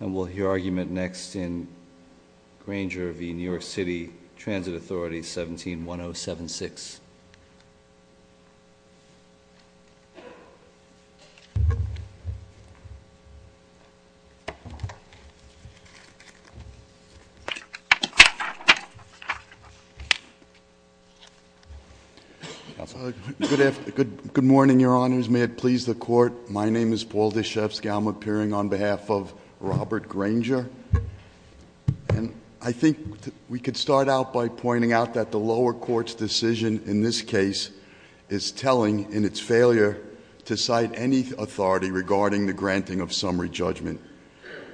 And we'll hear argument next in Granger v. New York City Transit Authority, 17-1076. Good morning, your honors. My name is Paul Deshefsky, I'm appearing on behalf of Robert Granger. And I think we could start out by pointing out that the lower court's decision in this case is telling in its failure to cite any authority regarding the granting of summary judgment.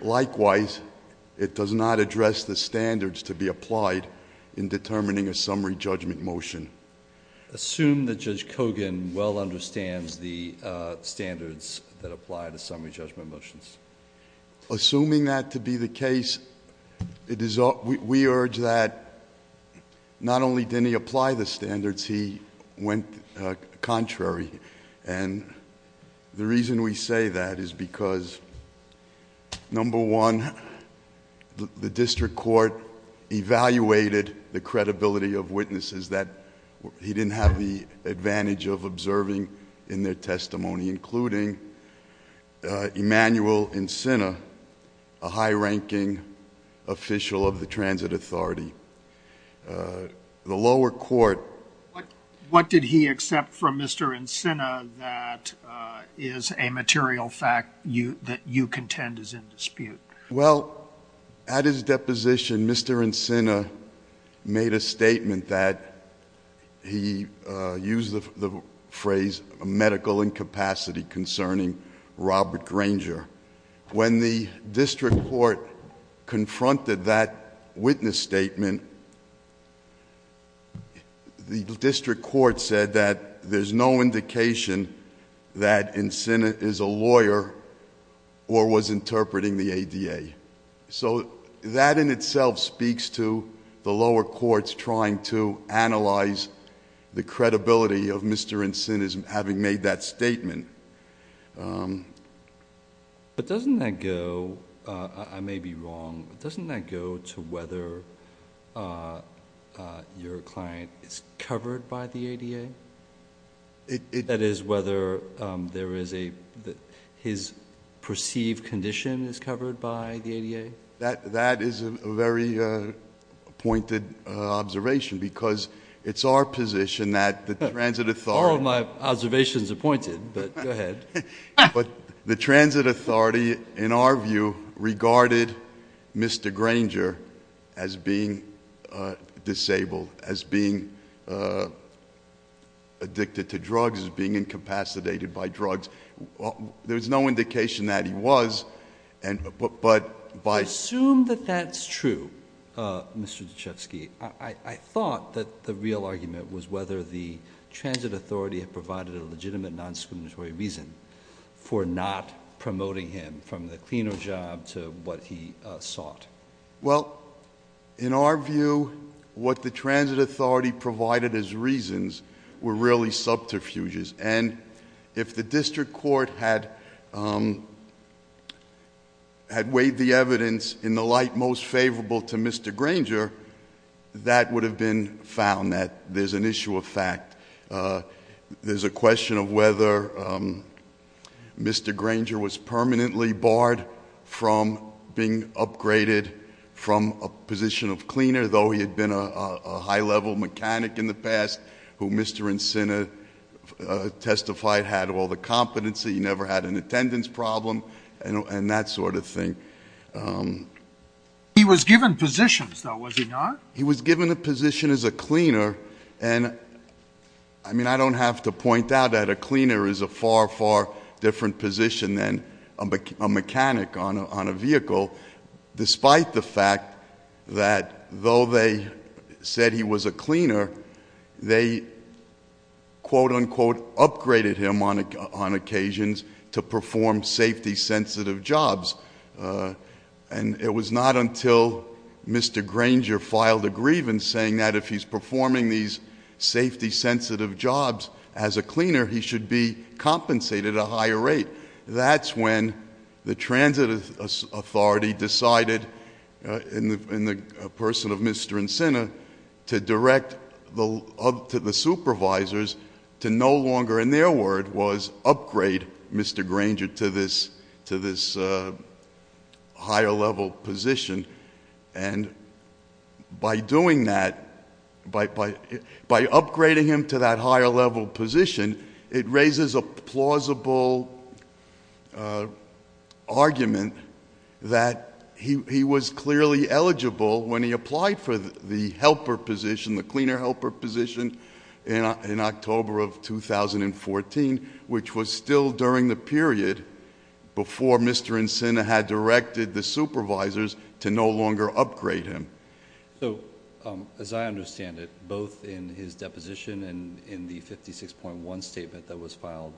Likewise, it does not address the standards to be applied in determining a summary judgment motion. Assume that Judge Kogan well understands the standards that apply to summary judgment motions. Assuming that to be the case, we urge that not only did he apply the standards, he went contrary, and the reason we say that is because, number one, the district court evaluated the credibility of witnesses that he didn't have the advantage of observing in their testimony, including Emmanuel Encina, a high-ranking official of the Transit Authority. The lower court- What did he accept from Mr. Encina that is a material fact that you contend is in dispute? Well, at his deposition, Mr. Encina made a statement that he used the phrase medical incapacity concerning Robert Granger. When the district court confronted that witness statement, the district court said that there's no indication that Encina is a lawyer or was interpreting the ADA. So that in itself speaks to the lower court's trying to analyze the credibility of Mr. Encina's having made that statement. But doesn't that go, I may be wrong, but doesn't that go to whether your client is covered by the ADA? That is, whether his perceived condition is covered by the ADA? That is a very pointed observation, because it's our position that the Transit Authority- All of my observations are pointed, but go ahead. But the Transit Authority, in our view, regarded Mr. Encina as disabled, as being addicted to drugs, as being incapacitated by drugs. There's no indication that he was, but by- Assume that that's true, Mr. Duchovsky. I thought that the real argument was whether the Transit Authority had provided a legitimate non-scriminatory reason for not promoting him from the cleaner job to what he sought. Well, in our view, what the Transit Authority provided as reasons were really subterfuges. And if the district court had weighed the evidence in the light most favorable to Mr. Granger, that would have been found that there's an issue of fact. There's a question of whether Mr. Granger was permanently barred from being upgraded from a position of cleaner, though he had been a high level mechanic in the past, who Mr. Encina testified had all the competency, never had an attendance problem, and that sort of thing. He was given positions, though, was he not? He was given a position as a cleaner, and I mean, I have to point out that a cleaner is a far, far different position than a mechanic on a vehicle. Despite the fact that though they said he was a cleaner, they quote unquote upgraded him on occasions to perform safety sensitive jobs. And it was not until Mr. Granger filed a grievance saying that if he's performing these safety sensitive jobs as a cleaner, he should be compensated a higher rate. That's when the Transit Authority decided in the person of Mr. Encina to direct the supervisors to no longer, in their word, was upgrade Mr. Granger to this higher level position. And by doing that, by upgrading him to that higher level position, it raises a plausible argument that he was clearly eligible when he applied for the helper position, the cleaner helper position in October of 2014, which was still during the period before Mr. Encina had directed the supervisors to no longer upgrade him. So, as I understand it, both in his deposition and in the 56.1 statement that was filed,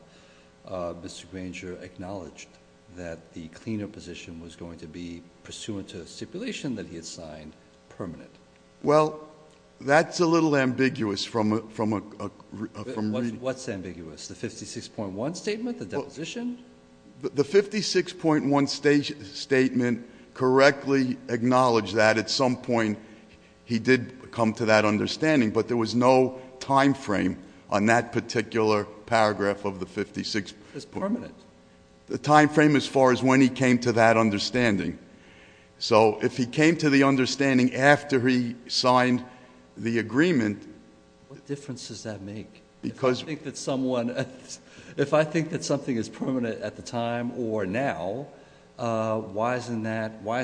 Mr. Granger acknowledged that the cleaner position was going to be pursuant to a stipulation that he had signed permanent. Well, that's a little ambiguous from a- What's ambiguous, the 56.1 statement, the deposition? The 56.1 statement correctly acknowledged that at some point he did come to that understanding, but there was no time frame on that particular paragraph of the 56.1. It's permanent. The time frame as far as when he came to that understanding. So, if he came to the understanding after he signed the agreement. What difference does that make? Because- If I think that something is permanent at the time or now, why is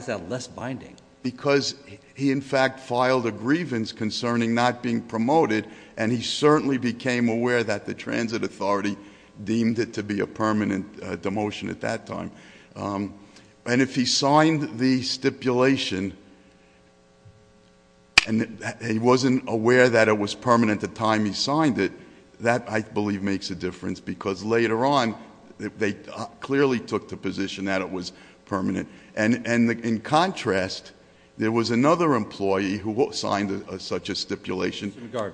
that less binding? Because he, in fact, filed a grievance concerning not being promoted, and he certainly became aware that the transit authority deemed it to be a permanent demotion at that time. And if he signed the stipulation, and he wasn't aware that it was permanent the time he signed it, that, I believe, makes a difference. Because later on, they clearly took the position that it was permanent. And in contrast, there was another employee who signed such a stipulation. Mr.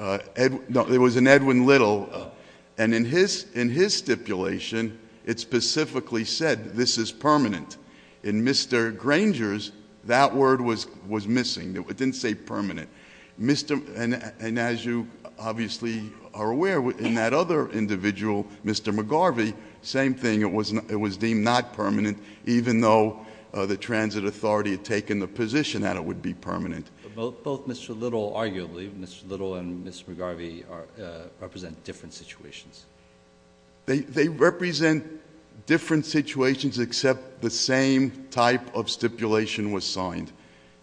McGarvey. No, it was an Edwin Little. And in his stipulation, it specifically said, this is permanent. In Mr. Granger's, that word was missing. It didn't say permanent. And as you obviously are aware, in that other individual, Mr. McGarvey, same thing, it was deemed not permanent, even though the transit authority had taken the position that it would be permanent. Both Mr. Little, arguably, Mr. Little and Mr. McGarvey represent different situations. They represent different situations except the same type of stipulation was signed.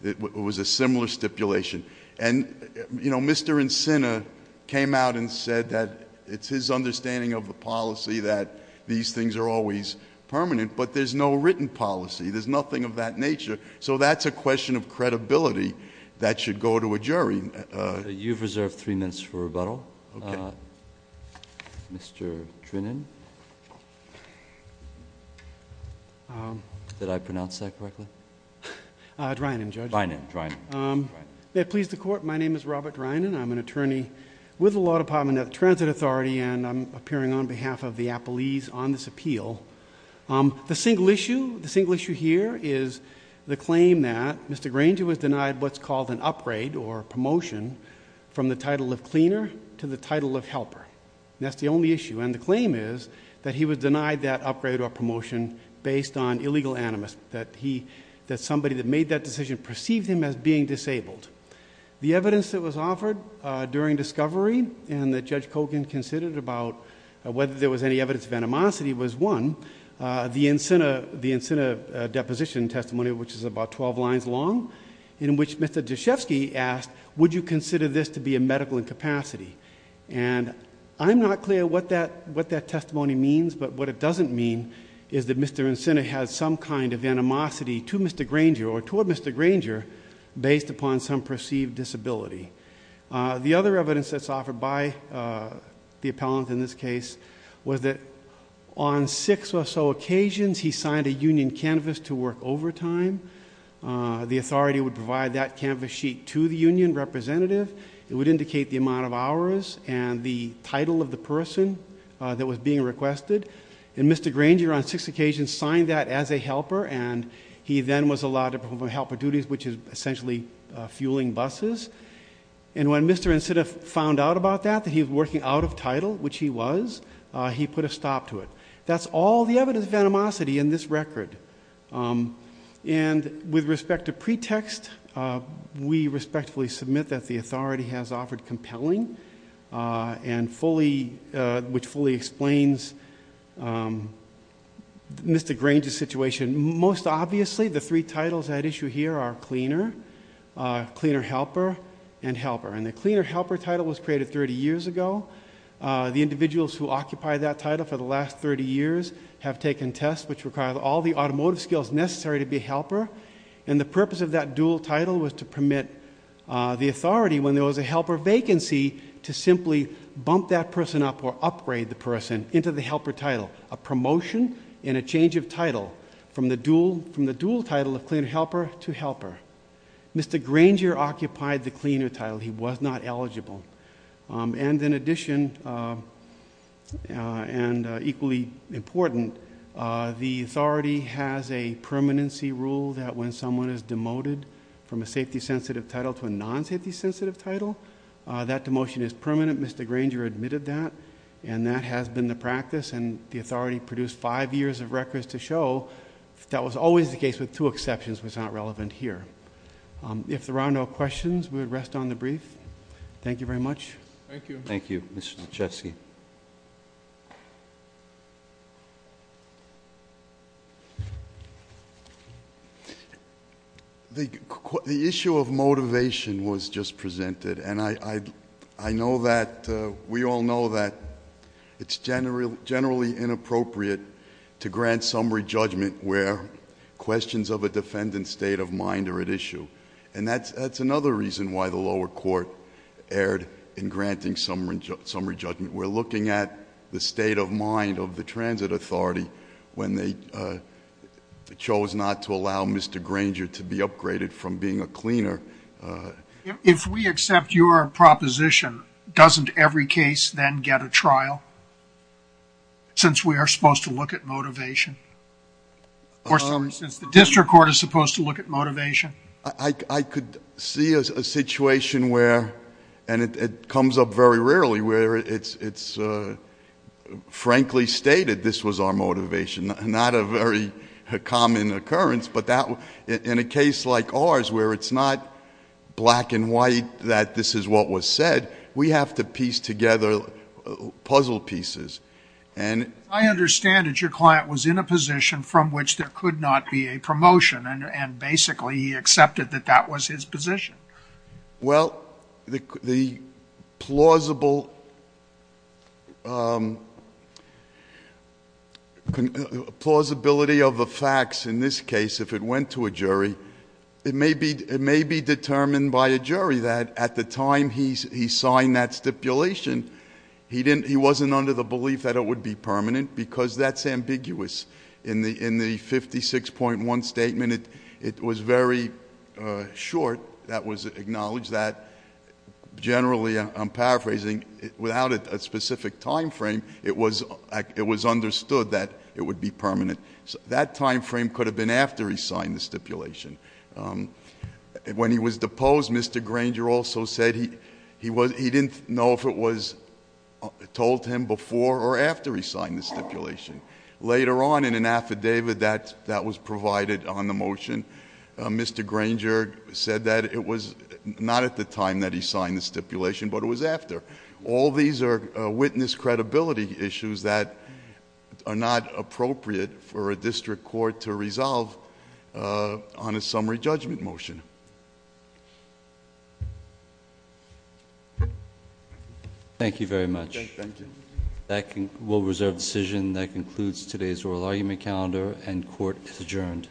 It was a similar stipulation. And Mr. Encina came out and said that it's his understanding of the policy that these things are always permanent, but there's no written policy. There's nothing of that nature. So that's a question of credibility that should go to a jury. You've reserved three minutes for rebuttal. Okay. Mr. Trinan. Did I pronounce that correctly? Trinan, Judge. Trinan, Trinan. May it please the court, my name is Robert Trinan. I'm an attorney with the Law Department at the Transit Authority, and I'm appearing on behalf of the appellees on this appeal. The single issue here is the claim that Mr. Granger was denied what's called an upgrade or promotion from the title of cleaner to the title of helper. That's the only issue. And the claim is that he was denied that upgrade or promotion based on illegal animus, that somebody that made that decision perceived him as being disabled. The evidence that was offered during discovery and that Judge Kogan considered about whether there was any evidence of animosity was one. The Encina deposition testimony, which is about 12 lines long, in which Mr. Deshefsky asked, would you consider this to be a medical incapacity? And I'm not clear what that testimony means, but what it doesn't mean is that Mr. Encina has some kind of animosity to Mr. Granger or toward Mr. Granger based upon some perceived disability. The other evidence that's offered by the appellant in this case was that on six or so occasions, he signed a union canvas to work overtime. The authority would provide that canvas sheet to the union representative. It would indicate the amount of hours and the title of the person that was being requested. And Mr. Granger on six occasions signed that as a helper, and he then was allowed to perform helper duties, which is essentially fueling buses. And when Mr. Encina found out about that, that he was working out of title, which he was, he put a stop to it. That's all the evidence of animosity in this record. And with respect to pretext, we respectfully submit that the authority has offered compelling. And which fully explains Mr. Granger's situation. Most obviously, the three titles at issue here are cleaner, cleaner helper, and helper. And the cleaner helper title was created 30 years ago. The individuals who occupy that title for the last 30 years have taken tests which require all the automotive skills necessary to be a helper. And the purpose of that dual title was to permit the authority when there was a helper vacancy to simply bump that person up or upgrade the person into the helper title. A promotion and a change of title from the dual title of cleaner helper to helper. Mr. Granger occupied the cleaner title. He was not eligible. And in addition, and equally important, the authority has a permanency rule that when someone is demoted from a safety sensitive title to a non-safety sensitive title. That demotion is permanent. Mr. Granger admitted that. And that has been the practice. And the authority produced five years of records to show that was always the case with two exceptions was not relevant here. If there are no questions, we would rest on the brief. Thank you very much. Thank you. Thank you, Mr. Lachesky. The issue of motivation was just presented. And I know that we all know that it's generally inappropriate to grant summary judgment where questions of a defendant's state of mind are at issue. And that's another reason why the lower court erred in granting summary judgment. We're looking at the state of mind of the transit authority when they chose not to allow Mr. Granger to be upgraded from being a cleaner. If we accept your proposition, doesn't every case then get a trial? Since we are supposed to look at motivation? I could see a situation where, and it comes up very rarely, where it's frankly stated this was our motivation. Not a very common occurrence, but in a case like ours where it's not black and white that this is what was said, we have to piece together puzzle pieces. And- I understand that your client was in a position from which there could not be a promotion. And basically, he accepted that that was his position. Well, the plausibility of the facts in this case, if it went to a jury, it may be determined by a jury that at the time he signed that stipulation, he wasn't under the belief that it would be permanent. Because that's ambiguous. In the 56.1 statement, it was very short. That was acknowledged that, generally, I'm paraphrasing, without a specific time frame, it was understood that it would be permanent. That time frame could have been after he signed the stipulation. When he was deposed, Mr. Granger also said he didn't know if it was told to him before or after he signed the stipulation. Later on, in an affidavit that was provided on the motion, Mr. Granger said that it was not at the time that he signed the stipulation, but it was after. All these are witness credibility issues that are not appropriate for a district court to resolve on a summary judgment motion. Thank you very much. We'll reserve the decision. That concludes today's oral argument calendar and court is adjourned.